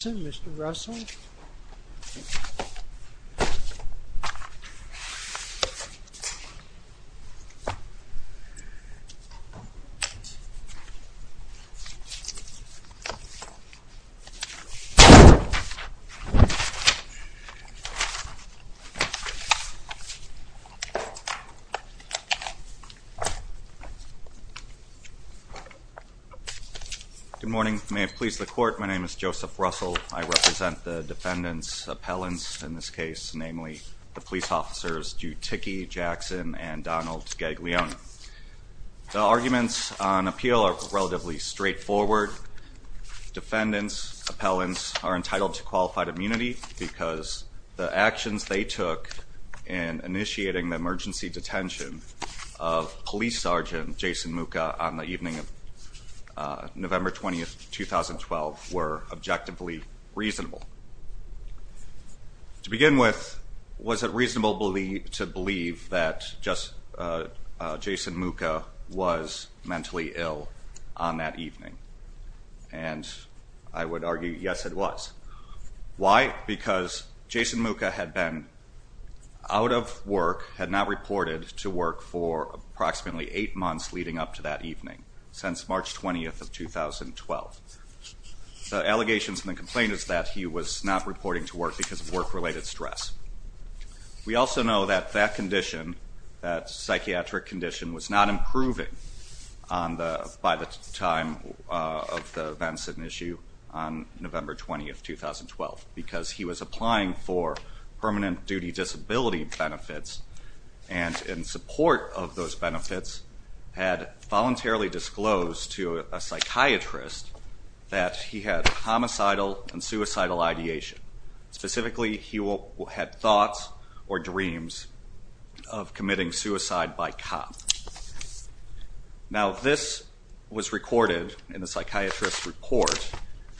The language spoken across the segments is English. Good morning, may it please the Court, my name is Joseph Russell. I represent the defendant's appellants in this case, namely the police officers Jutiki Jackson and Donald Gaglione. The arguments on appeal are relatively straightforward. Defendants, appellants, are entitled to qualified immunity because the actions they took in initiating the emergency detention of police sergeant Jason Mucha on the evening of November 20, 2012 were objectively reasonable. To begin with, was it reasonable to believe that just Jason Mucha was mentally ill on that evening? And I would argue yes, it was. Why? Because Jason Mucha had been out of work, had not reported to work for approximately eight months leading up to that evening, since March 20, 2012. The allegations and the complaint is that he was not reporting to work because of work-related stress. We also know that that condition, that psychiatric condition, was not improving by the time of the events and issue on November 20, 2012, because he was applying for permanent duty disability benefits, and in support of those benefits, had voluntarily disclosed to a psychiatrist that he had homicidal and suicidal ideation. Specifically, he had thoughts or dreams of committing suicide by cop. Now, this was recorded in the psychiatrist's report,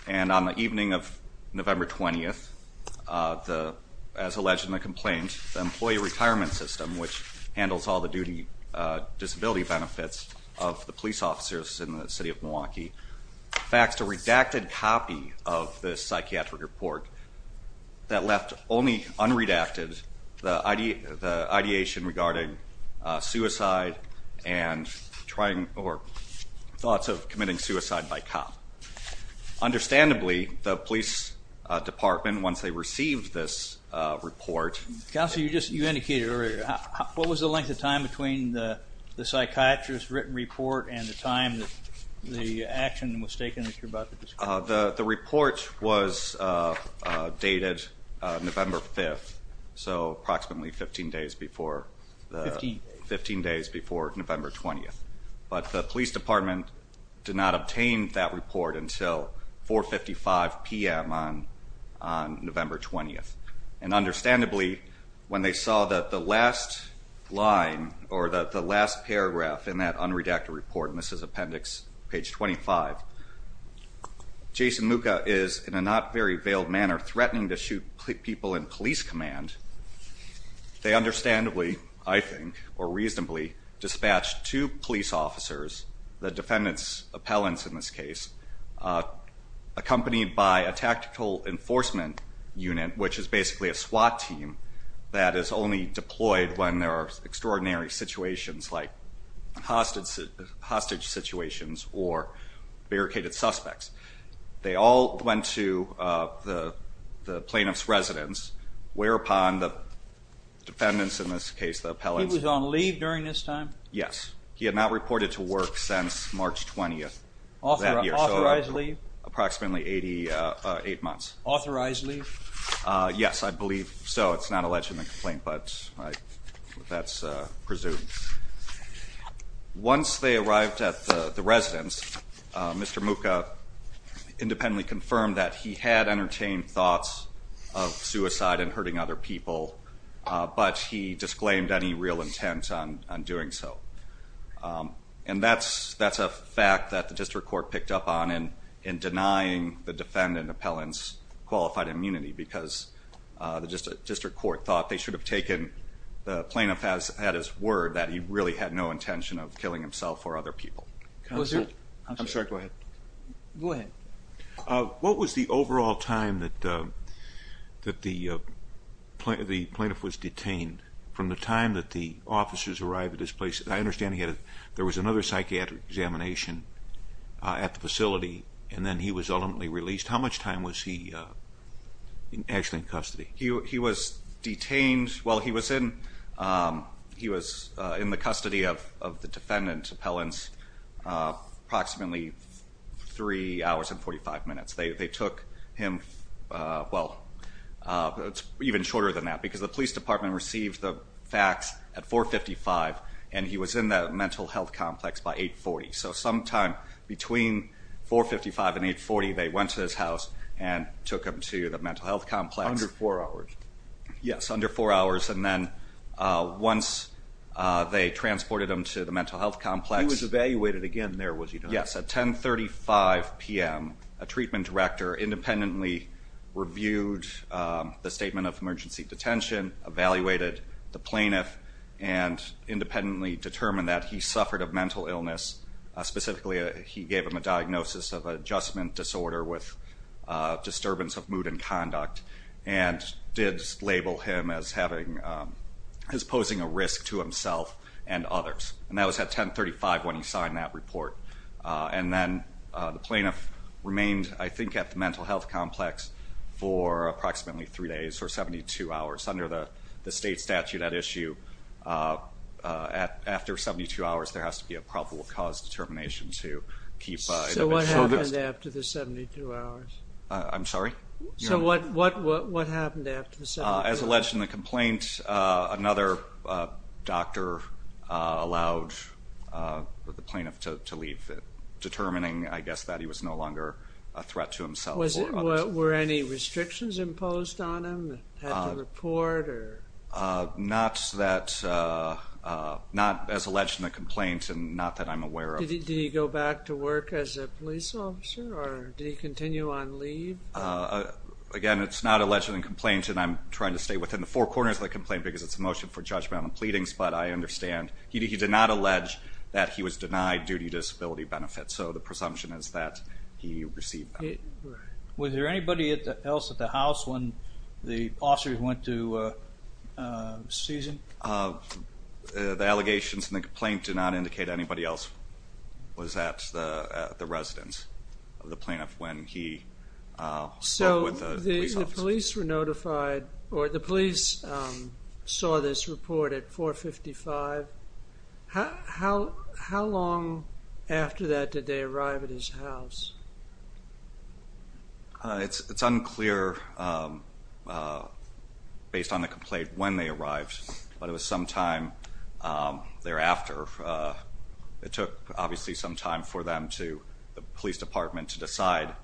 and on the evening of November 20, 2012, as alleged in the complaint, the employee retirement system, which handles all the duty disability benefits of the police officers in the city of Milwaukee, faxed a redacted copy of this psychiatric report that left only unredacted the ideation regarding suicide and thoughts of committing suicide by cop. Understandably, the police department, once they received this report... Counsel, you indicated earlier, what was the length of time between the psychiatrist's written report and the time that the action was taken that you're about to describe? The report was dated November 5, so approximately 15 days before November 20, but the police department did not obtain that report until 4.55 p.m. on November 20, and understandably, when they saw that the last line or the last paragraph in that unredacted report, and this is appendix page 25, Jason Mucha is in a not very veiled manner threatening to shoot people in police command. They understandably, I think, or reasonably, dispatched two police officers, the defendant's appellants in this case, accompanied by a tactical enforcement unit, which is basically a SWAT team that is only deployed when there are extraordinary situations like hostage situations or barricaded suspects. They all went to the plaintiff's residence, whereupon the defendants, in this case the appellants... He was on leave during this time? Yes. He had not reported to work since March 20 of that year, so approximately 88 months. Authorized leave? Yes, I believe so. It's not alleged in the complaint, but that's presumed. Once they arrived at the residence, Mr. Mucha independently confirmed that he had entertained thoughts of suicide and hurting other people, but he disclaimed any real intent on doing so. And that's a fact that the district court picked up on in denying the defendant appellant's qualified immunity, because the district court thought they should have taken... He really had no intention of killing himself or other people. I'm sorry, go ahead. What was the overall time that the plaintiff was detained, from the time that the officers arrived at his place? I understand there was another psychiatric examination at the facility, and then he was How much time was he actually in custody? He was detained, well, he was in the custody of the defendant appellant's approximately 3 hours and 45 minutes. They took him, well, it's even shorter than that, because the police department received the facts at 4.55, and he was in the mental health complex by 8.40. So sometime between 4.55 and 8.40, they went to his house and took him to the mental health complex. Under 4 hours? Yes, under 4 hours. And then once they transported him to the mental health complex... He was evaluated again there, was he not? Yes, at 10.35 p.m. A treatment director independently reviewed the statement of emergency detention, evaluated the plaintiff, and independently determined that he suffered a mental illness, specifically he gave him a diagnosis of adjustment disorder with disturbance of mood and conduct, and did label him as having, as posing a risk to himself and others. And that was at 10.35 when he signed that report. And then the plaintiff remained, I think, at the mental health complex for approximately 3 days, or 72 hours. Under the state statute at issue, after 72 hours, there has to be a probable cause determination to keep... So what happened after the 72 hours? I'm sorry? So what happened after the 72 hours? As alleged in the complaint, another doctor allowed the plaintiff to leave, determining, I guess, that he was no longer a threat to himself or others. Were any restrictions imposed on him, had to report, or... Not that... Not as alleged in the complaint, and not that I'm aware of. Did he go back to work as a police officer, or did he continue on leave? Again, it's not alleged in the complaint, and I'm trying to stay within the four corners of the complaint because it's a motion for judgment on the pleadings, but I understand he did not allege that he was denied duty disability benefits. So the presumption is that he received them. Was there anybody else at the house when the officers went to seize him? The allegations in the complaint do not indicate anybody else was at the residence of the plaintiff when he spoke with the police officer. So the police were notified, or the police saw this report at 4.55. How long after that did they arrive at his house? It's unclear based on the complaint when they arrived, but it was sometime thereafter. It took, obviously, some time for them to, the police department, to decide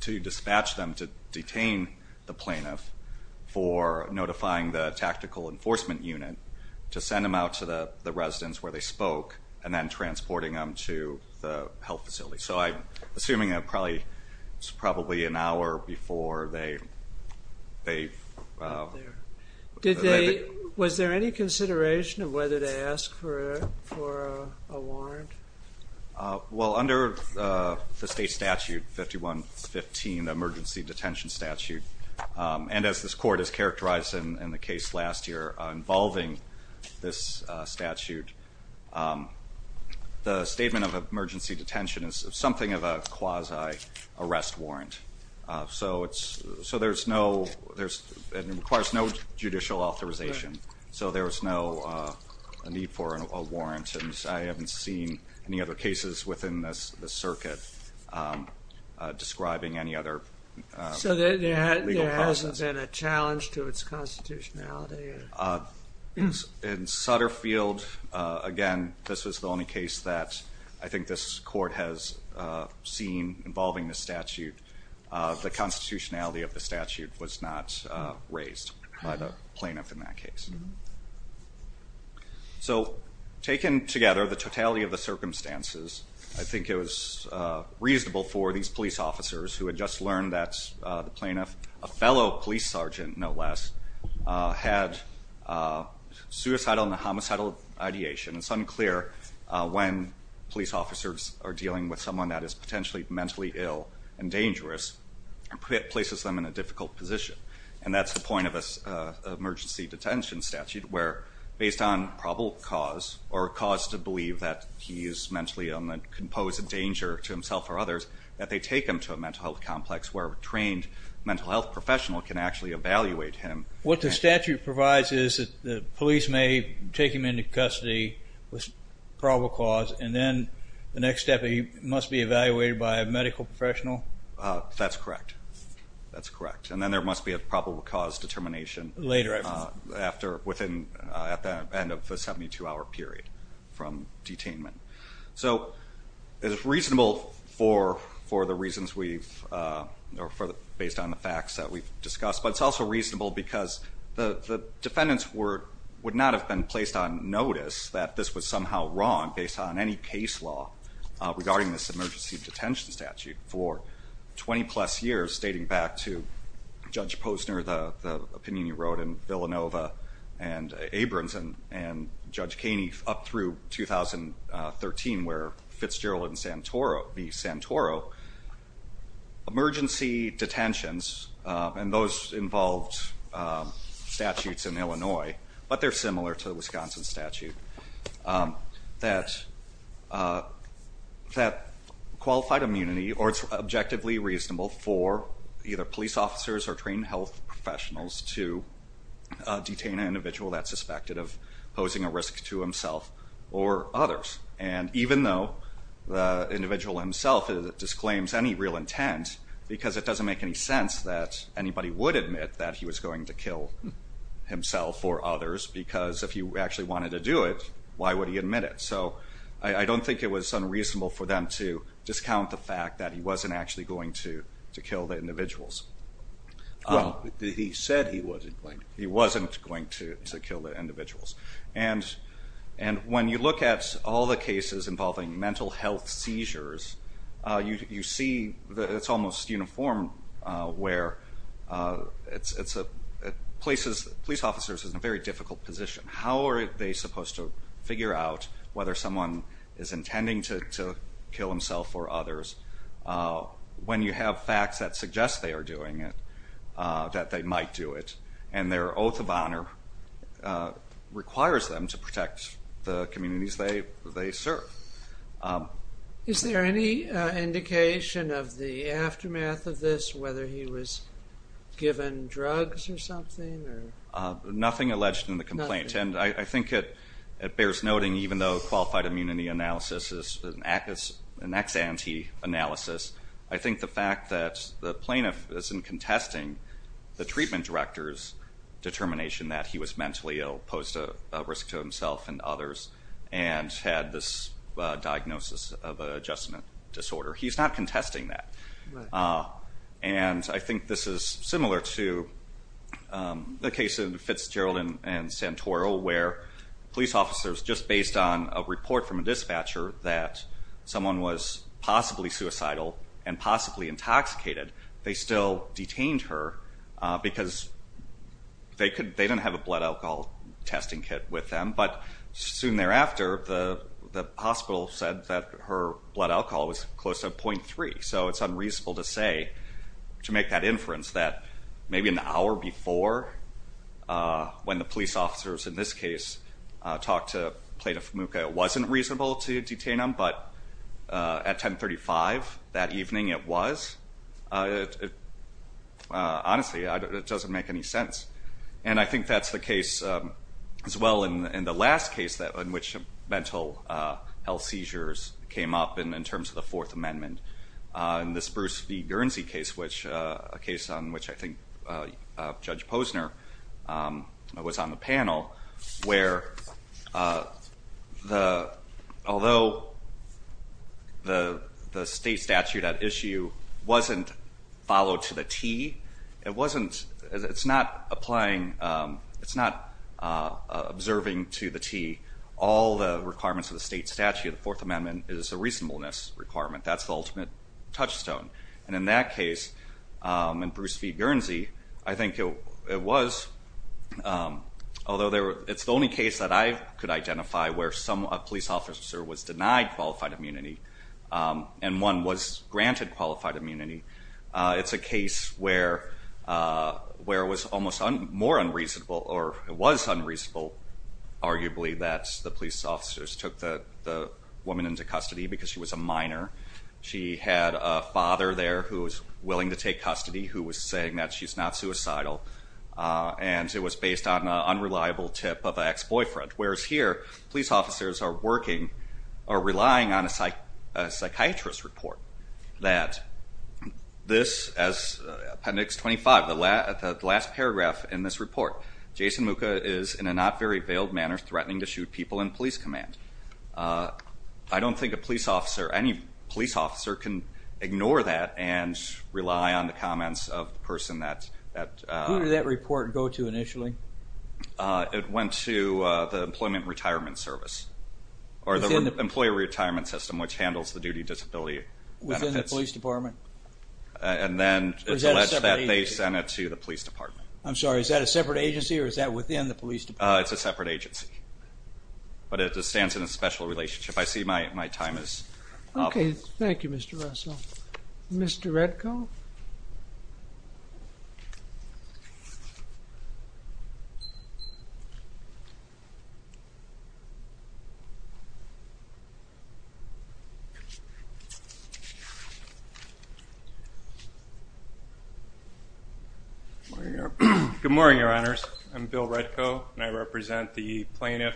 to dispatch them to detain the plaintiff for notifying the tactical enforcement unit to send them out to the residence where they spoke, and then transporting them to the health facility. So I'm assuming that probably, it was probably an hour before they arrived. Was there any consideration of whether to ask for a warrant? Well under the state statute, 5115, the emergency detention statute, and as this court has characterized in the case last year involving this statute, the statement of emergency detention is something of a quasi-arrest warrant. So it's, so there's no, it requires no judicial authorization. So there's no need for a warrant, and I haven't seen any other cases within this circuit describing any other legal process. Has there been a challenge to its constitutionality? In Sutterfield, again, this was the only case that I think this court has seen involving the statute. The constitutionality of the statute was not raised by the plaintiff in that case. So taken together, the totality of the circumstances, I think it was reasonable for these police sergeant, no less, had suicidal and homicidal ideation. It's unclear when police officers are dealing with someone that is potentially mentally ill and dangerous, and places them in a difficult position. And that's the point of an emergency detention statute, where based on probable cause, or cause to believe that he is mentally ill and can pose a danger to himself or others, that they take him to a mental health complex where a trained mental health professional can actually evaluate him. What the statute provides is that the police may take him into custody with probable cause, and then the next step, he must be evaluated by a medical professional? That's correct. That's correct. And then there must be a probable cause determination later, after, within, at the end of the 72-hour period from detainment. So it's reasonable for the reasons we've, based on the facts that we've discussed, but it's also reasonable because the defendants would not have been placed on notice that this was somehow wrong based on any case law regarding this emergency detention statute for 20-plus years, stating back to Judge Posner, the opinion he wrote, and Villanova, and Abrams, and Judge Kaney up through 2013, where Fitzgerald and Santoro, the Santoro, emergency detentions, and those involved statutes in Illinois, but they're similar to the Wisconsin statute, that qualified immunity, or it's objectively reasonable for either police officers or trained health professionals to detain an individual that's suspected of posing a risk to himself or others. And even though the individual himself disclaims any real intent, because it doesn't make any sense that anybody would admit that he was going to kill himself or others, because if he actually wanted to do it, why would he admit it? So I don't think it was unreasonable for them to discount the fact that he wasn't actually going to kill the individuals. Well, he said he wasn't going to. He wasn't going to kill the individuals. And when you look at all the cases involving mental health seizures, you see that it's almost uniform where it's a, police officers are in a very difficult position. How are they supposed to figure out whether someone is intending to kill himself or others when you have facts that suggest they are doing it, that they might do it, and their oath of honor requires them to protect the communities they serve. Is there any indication of the aftermath of this, whether he was given drugs or something? Nothing alleged in the complaint. I think it bears noting, even though qualified immunity analysis is an ex ante analysis, I think the fact that the plaintiff isn't contesting the treatment director's determination that he was mentally ill, posed a risk to himself and others, and had this diagnosis of an adjustment disorder. He's not contesting that. And I think this is similar to the case of Fitzgerald and Santoro, where police officers, just based on a report from a dispatcher that someone was possibly suicidal and possibly intoxicated, they still detained her because they didn't have a blood alcohol testing kit with them. But soon thereafter, the hospital said that her blood alcohol was close to 0.3. So it's unreasonable to say, to make that inference, that maybe an hour before when the police officers, in this case, talked to Plaintiff Fumuka, it wasn't reasonable to detain him. But at 10.35 that evening, it was. Honestly, it doesn't make any sense. And I think that's the case as well in the last case in which mental health seizures came up in terms of the Fourth Amendment, in this Bruce V. Guernsey case, a case on which I think Judge Posner was on the panel, where although the state statute at issue wasn't followed to the T, it's not observing to the T all the requirements of the state statute. The Fourth Amendment is a reasonableness requirement. That's the ultimate touchstone. And in that case, in Bruce V. Guernsey, I think it was, although it's the only case that I could identify where a police officer was denied qualified immunity and one was granted qualified immunity, it's a case where it was almost more unreasonable, or it was because she was a minor. She had a father there who was willing to take custody, who was saying that she's not suicidal, and it was based on an unreliable tip of an ex-boyfriend. Whereas here, police officers are working, are relying on a psychiatrist's report that this, as Appendix 25, the last paragraph in this report, Jason Muka is in a not very veiled manner threatening to shoot people in police command. I don't think a police officer, any police officer can ignore that and rely on the comments of the person that... Who did that report go to initially? It went to the Employment Retirement Service, or the Employee Retirement System, which handles the duty disability benefits. Within the police department? And then it's alleged that they sent it to the police department. I'm sorry, is that a separate agency or is that within the police department? It's a separate agency. But it stands in a special relationship. I see my time is up. Okay, thank you, Mr. Russell. Mr. Redko? Good morning, Your Honors. I'm Bill Redko, and I represent the plaintiff,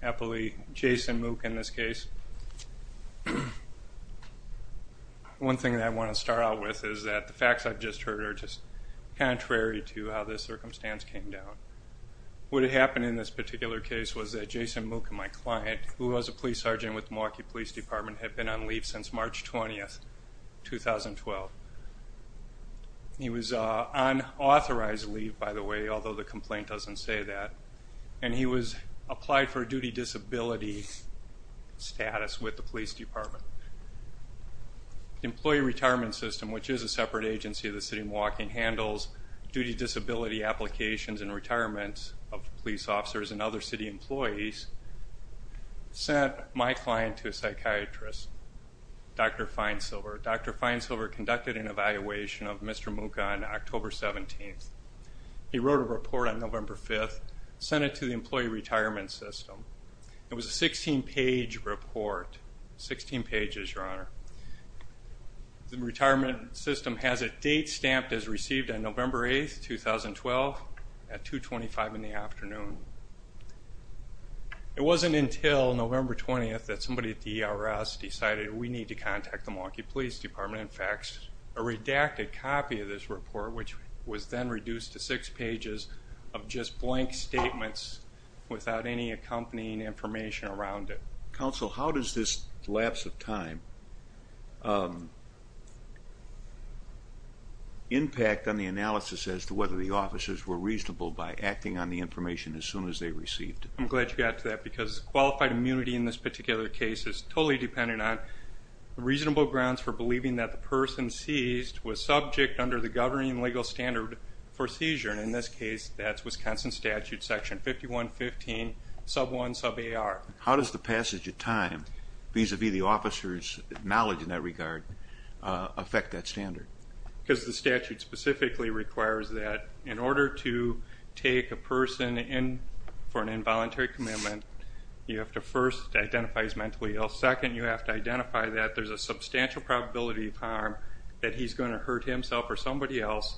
happily, Jason Muka in this case. One thing that I want to start out with is that the facts I've just heard are just contrary to how this circumstance came down. What had happened in this particular case was that Jason Muka, my client, who was a police sergeant with Milwaukee Police Department, had been on leave since March 20th, 2012. He was on authorized leave, by the way, although the complaint doesn't say that. And he was applied for a duty disability status with the police department. The Employee Retirement System, which is a separate agency, the city of Milwaukee, handles duty disability applications and retirements of police officers and other city employees, sent my client to a psychiatrist, Dr. Feinsilver. Dr. Feinsilver conducted an evaluation of Mr. Muka on October 17th. He wrote a report on November 5th, sent it to the Employee Retirement System. It was a 16-page report, 16 pages, Your Honor. The retirement system has a date stamped as received on November 8th, 2012, at 225 in the afternoon. It wasn't until November 20th that somebody at the ERS decided, we need to contact the Milwaukee Police Department and fax a redacted copy of this report, which was then reduced to six pages of just blank statements without any accompanying information around it. Counsel, how does this lapse of time impact on the analysis as to whether the officers were reasonable by acting on the information as soon as they received it? I'm glad you got to that because qualified immunity in this particular case is totally dependent on reasonable grounds for believing that the person seized was subject under the governing legal standard for seizure, and in this case, that's Wisconsin Statute section 5115 sub 1 sub AR. How does the passage of time vis-a-vis the officer's knowledge in that regard affect that standard? Because the statute specifically requires that in order to take a person in for an involuntary commitment, you have to first identify he's mentally ill, second, you have to identify that there's a substantial probability of harm, that he's going to hurt himself or somebody else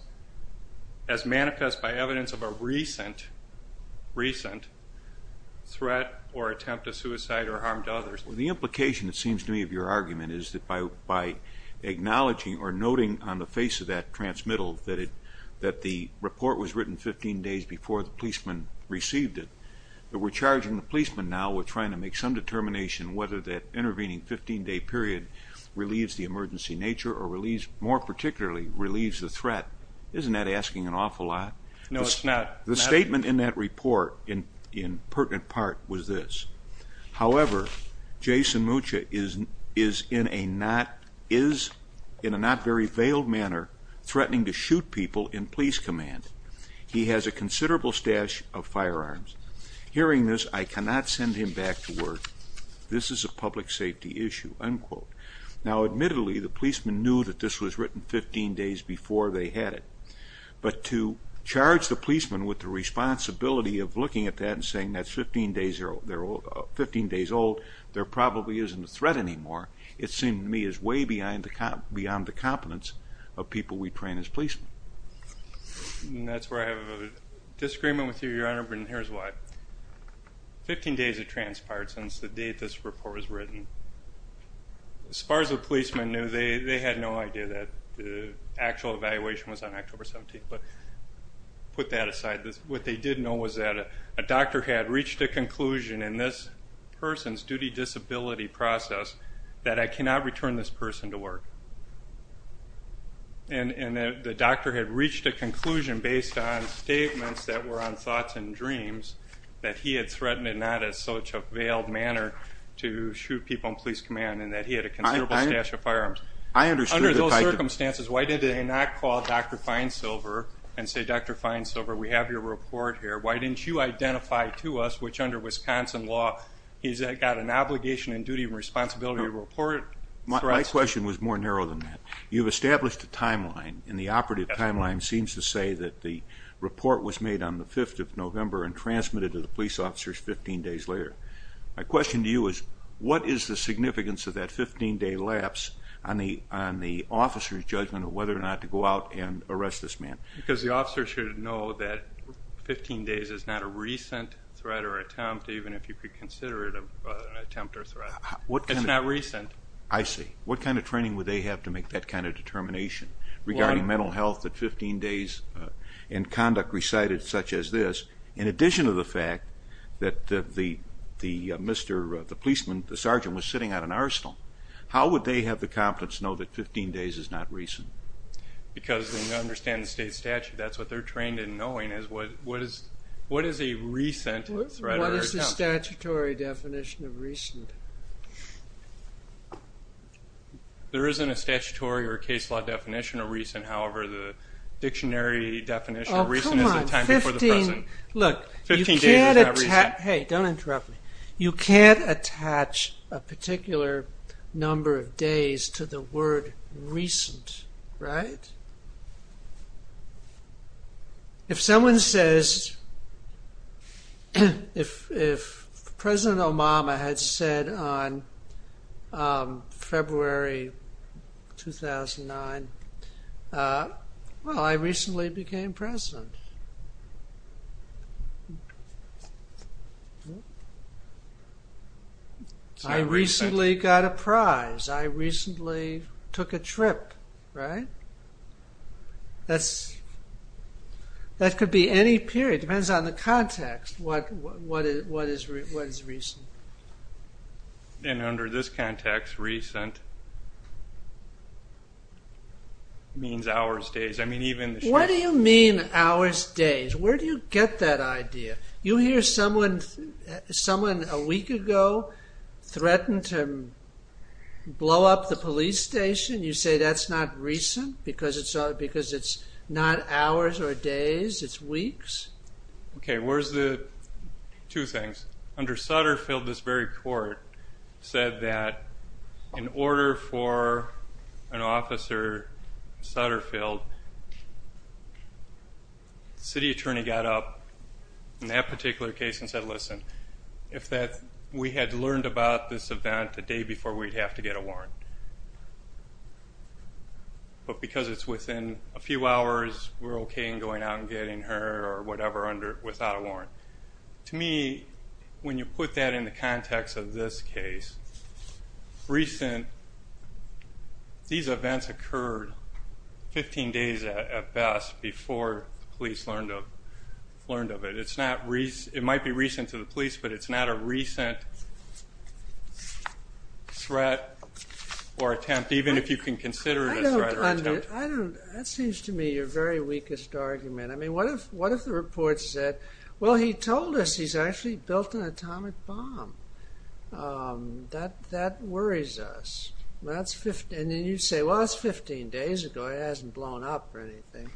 as manifest by evidence of a recent, recent threat or attempt to suicide or harm to others. The implication, it seems to me, of your argument is that by acknowledging or noting on the face of that transmittal that the report was written 15 days before the policeman received it, that we're charging the policeman now, we're trying to make some determination whether that intervening 15-day period relieves the emergency nature or more particularly relieves the threat. Isn't that asking an awful lot? No, it's not. The statement in that report in pertinent part was this, however, Jason Mucha is in a not very veiled manner threatening to shoot people in police command. He has a considerable stash of firearms. Hearing this, I cannot send him back to work. This is a public safety issue, unquote. Now, admittedly, the policeman knew that this was written 15 days before they had it. But to charge the policeman with the responsibility of looking at that and saying that's 15 days old, they're probably isn't a threat anymore, it seemed to me is way beyond the competence of people we train as policemen. And that's where I have a disagreement with you, Your Honor, and here's why. 15 days have transpired since the date this report was written. As far as the policeman knew, they had no idea that the actual evaluation was on October 17th. But put that aside, what they did know was that a doctor had reached a conclusion in this person's duty disability process that I cannot return this person to work. And the doctor had reached a conclusion based on statements that were on thoughts and dreams that he had threatened in not as such a veiled manner to shoot people in police command and that he had a considerable stash of firearms. I understood the type of... Under those circumstances, why did they not call Dr. Feinsilver and say, Dr. Feinsilver, we have your report here. Why didn't you identify to us which, under Wisconsin law, he's got an obligation and duty and responsibility to report? My question was more narrow than that. You've established a timeline, and the operative timeline seems to say that the report was made on the 5th of November and transmitted to the police officers 15 days later. My question to you is, what is the significance of that 15-day lapse on the officer's judgment of whether or not to go out and arrest this man? Because the officer should know that 15 days is not a recent threat or attempt, even if you could consider it an attempt or threat. What kind of... It's not recent. I see. What kind of training would they have to make that kind of determination regarding mental health that 15 days in conduct recited such as this, in addition to the fact that the policeman, the sergeant, was sitting at an arsenal? How would they have the confidence to know that 15 days is not recent? Because they understand the state statute, that's what they're trained in knowing, is what is a recent threat or attempt? What is the statutory definition of recent? There isn't a statutory or case law definition of recent, however, the dictionary definition of recent is the time before the present. Oh, come on. Look, you can't attach... 15 days is not recent. Hey, don't interrupt me. You can't attach a particular number of days to the word recent, right? If someone says... If President Obama had said on February 2009, well, I recently became president. I recently got a prize. I recently took a trip, right? That could be any period, depends on the context, what is recent. And under this context, recent means hours, days, I mean even the... What do you mean hours, days? Where do you get that idea? You hear someone a week ago threatened to blow up the police station, you say that's not recent because it's not hours or days, it's weeks? Okay, where's the... Two things. Under Sutterfield, this very court said that in order for an officer, Sutterfield, city attorney got up in that particular case and said, listen, if we had learned about this event a day before, we'd have to get a warrant. But because it's within a few hours, we're okay in going out and getting her or whatever without a warrant. To me, when you put that in the context of this case, recent... These events occurred 15 days at best before the police learned of it. It might be recent to the police, but it's not a recent threat or attempt, even if you can consider it a threat or attempt. I don't... That seems to me your very weakest argument. I mean, what if the report said, well, he told us he's actually built an atomic bomb. That worries us. And then you say, well, that's 15 days ago, it hasn't blown up or anything.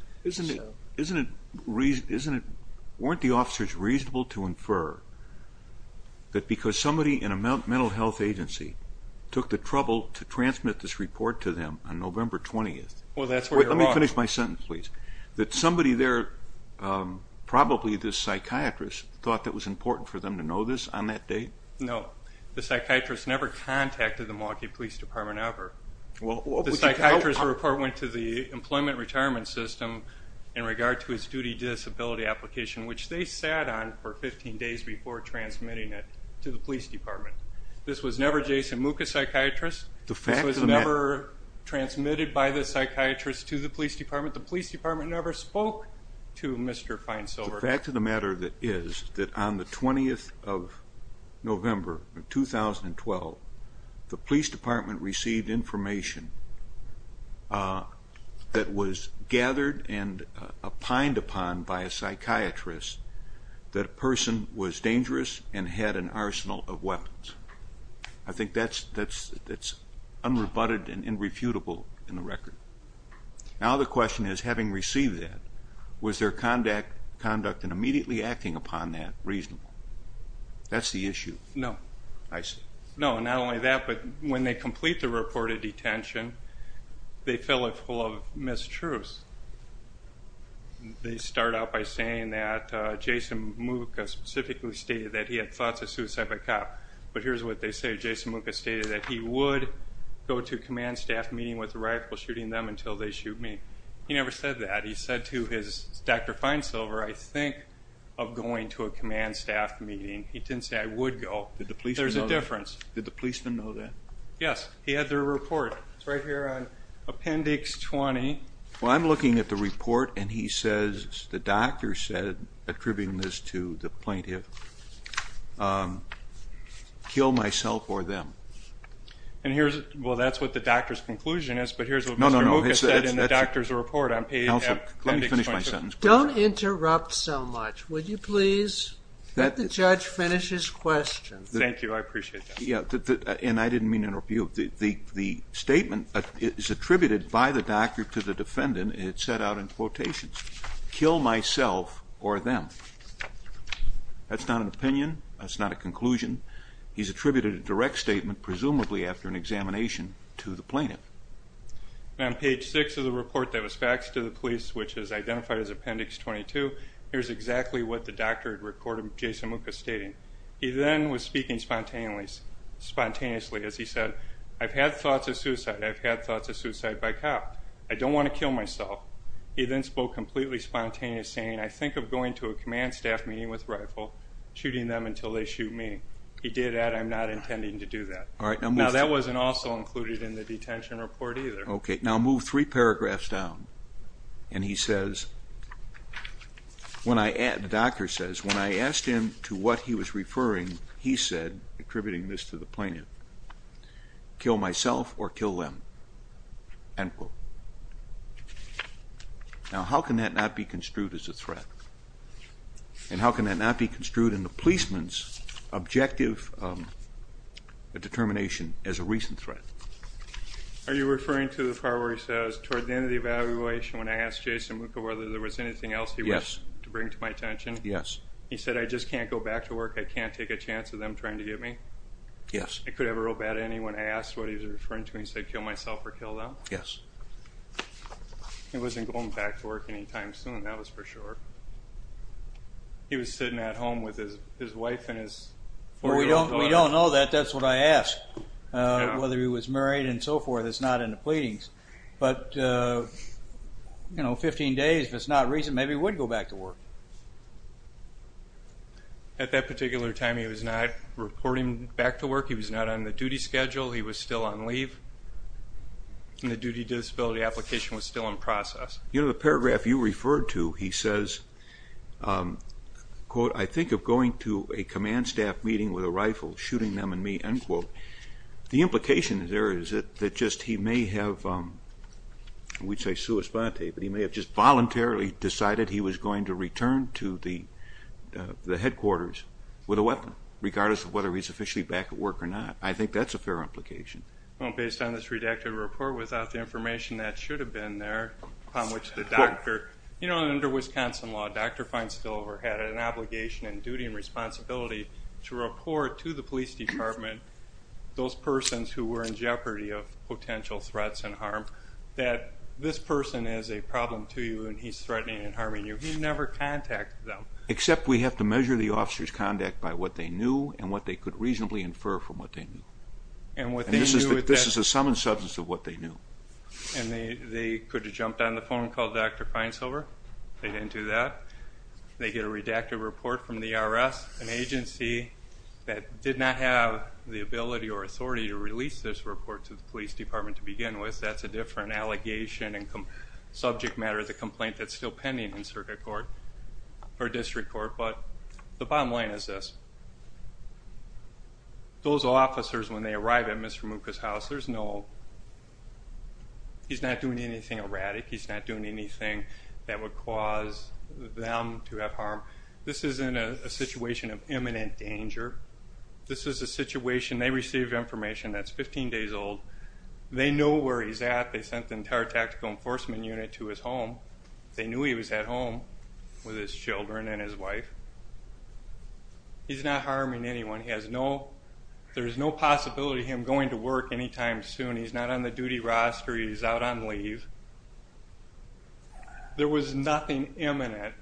Weren't the officers reasonable to infer that because somebody in a mental health agency took the trouble to transmit this report to them on November 20th? Well, that's where you're wrong. Let me finish my sentence, please. That somebody there, probably the psychiatrist, thought that was important for them to know this on that date? No. The psychiatrist never contacted the Milwaukee Police Department ever. The psychiatrist's report went to the Employment Retirement System in regard to his duty disability application, which they sat on for 15 days before transmitting it to the police department. This was never Jason Mucha's psychiatrist. This was never transmitted by the psychiatrist to the police department. The police department never spoke to Mr. Feinsilver. The fact of the matter is that on the 20th of November of 2012, the police department received information that was gathered and opined upon by a psychiatrist that a person was dangerous and had an arsenal of weapons. I think that's unrebutted and irrefutable in the record. Now the question is, having received that, was their conduct and immediately acting upon that reasonable? That's the issue. No. I see. No, not only that, but when they complete the report of detention, they fill it full of mistruths. They start out by saying that Jason Mucha specifically stated that he had thoughts of suicide by cop. But here's what they say. Jason Mucha stated that he would go to a command staff meeting with a rifle shooting them until they shoot me. He never said that. He said to his Dr. Feinsilver, I think of going to a command staff meeting. He didn't say, I would go. There's a difference. Did the policeman know that? Yes. He had their report. It's right here on appendix 20. Well, I'm looking at the report, and he says, the doctor said, attributing this to the plaintiff, kill myself or them. Well, that's what the doctor's conclusion is, but here's what Mr. Mucha said in the doctor's report on appendix 22. Don't interrupt so much, would you please? Let the judge finish his question. Thank you. I appreciate that. Yeah, and I didn't mean to interrupt you. The statement is attributed by the doctor to the defendant. It's set out in quotations. Kill myself or them. That's not an opinion. That's not a conclusion. He's attributed a direct statement, presumably after an examination, to the plaintiff. On page 6 of the report that was faxed to the police, which is identified as appendix 22, here's exactly what the doctor had recorded Jason Mucha stating. He then was speaking spontaneously as he said, I've had thoughts of suicide. I've had thoughts of suicide by cop. I don't want to kill myself. He then spoke completely spontaneous, saying, I think of going to a command staff meeting with rifle, shooting them until they shoot me. He did add, I'm not intending to do that. Now, that wasn't also included in the detention report either. Okay, now move three paragraphs down. And he says, the doctor says, when I asked him to what he was referring, he said, attributing this to the plaintiff, kill myself or kill them, end quote. Now, how can that not be construed as a threat? And how can that not be construed in the policeman's objective determination as a recent threat? Are you referring to the part where he says, toward the end of the evaluation, when I asked Jason Mucha whether there was anything else he wished to bring to my attention? Yes. He said, I just can't go back to work. I can't take a chance of them trying to get me? Yes. I could have a real bad ending when I asked what he was referring to. He said, kill myself or kill them? Yes. He wasn't going back to work anytime soon, that was for sure. He was sitting at home with his wife and his four-year-old daughter. We don't know that. That's what I asked, whether he was married and so forth. It's not in the pleadings. But, you know, 15 days, if it's not recent, maybe he would go back to work. At that particular time, he was not reporting back to work. He was not on the duty schedule. He was still on leave. And the duty disability application was still in process. You know, the paragraph you referred to, he says, quote, I think of going to a command staff meeting with a rifle, shooting them and me, end quote. The implication there is that just he may have, we'd say sui sponte, but he may have just voluntarily decided he was going to return to the headquarters with a weapon, regardless of whether he's officially back at work or not. I think that's a fair implication. Well, based on this redacted report, without the information that should have been there, upon which the doctor, you know, under Wisconsin law, Dr. Feinstiel had an obligation and duty and responsibility to report to the police department, those persons who were in jeopardy of potential threats and harm, that this person is a problem to you and he's threatening and harming you. He never contacted them. Except we have to measure the officer's conduct by what they knew and what they could reasonably infer from what they knew. And this is the sum and substance of what they knew. And they could have jumped on the phone and called Dr. Feinstiel. They didn't do that. They get a redacted report from the IRS, an agency that did not have the ability or authority to release this report to the police department to begin with. That's a different allegation and subject matter of the complaint that's still pending in circuit court or district court. But the bottom line is this. Those officers, when they arrive at Mr. Mucha's house, there's no he's not doing anything erratic. He's not doing anything that would cause them to have harm. This isn't a situation of imminent danger. This is a situation they receive information that's 15 days old. They know where he's at. They sent the entire tactical enforcement unit to his home. They knew he was at home with his children and his wife. He's not harming anyone. There's no possibility of him going to work anytime soon. He's not on the duty roster. He's out on leave. There was nothing imminent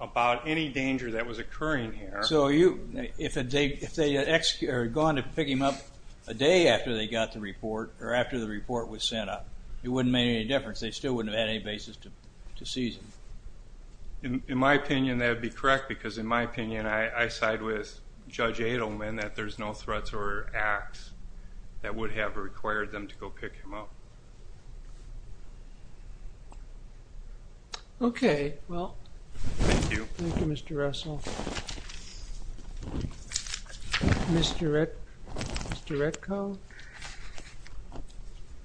about any danger that was occurring here. So if they had gone to pick him up a day after they got the report or after the report was sent out, it wouldn't have made any difference. They still wouldn't have had any basis to seize him. In my opinion, that would be correct because, in my opinion, I side with Judge Adelman that there's no threats or acts that would have required them to go pick him up. Okay. Well, thank you. Thank you, Mr. Russell. Mr. Redcoe?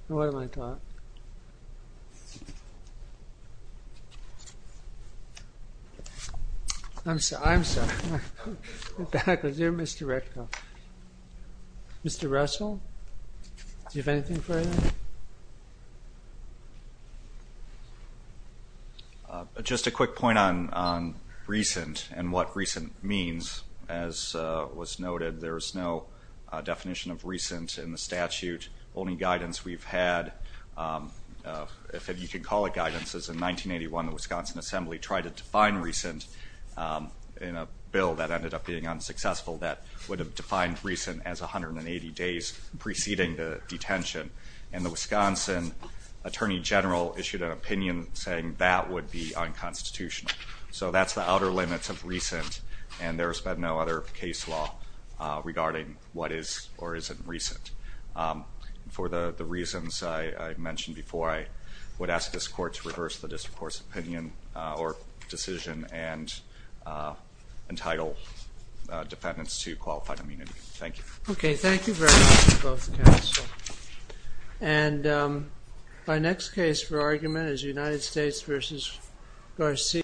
What am I talking? I'm sorry. You're Mr. Redcoe. Mr. Russell, do you have anything further? Just a quick point on recent and what recent means. As was noted, there's no definition of recent in the statute. Only guidance we've had, if you can call it guidance, is in 1981 the Wisconsin Assembly tried to define recent in a bill that ended up being unsuccessful that would have defined recent as 180 days preceding the detention. And the Wisconsin Attorney General issued an opinion saying that would be unconstitutional. So that's the outer limits of recent, and there's been no other case law regarding what is or isn't recent. For the reasons I mentioned before, I would ask this Court to reverse the District Court's opinion or decision and entitle defendants to qualified immunity. Thank you. Okay. Thank you very much to both counsel. And my next case for argument is United States v. Garcia.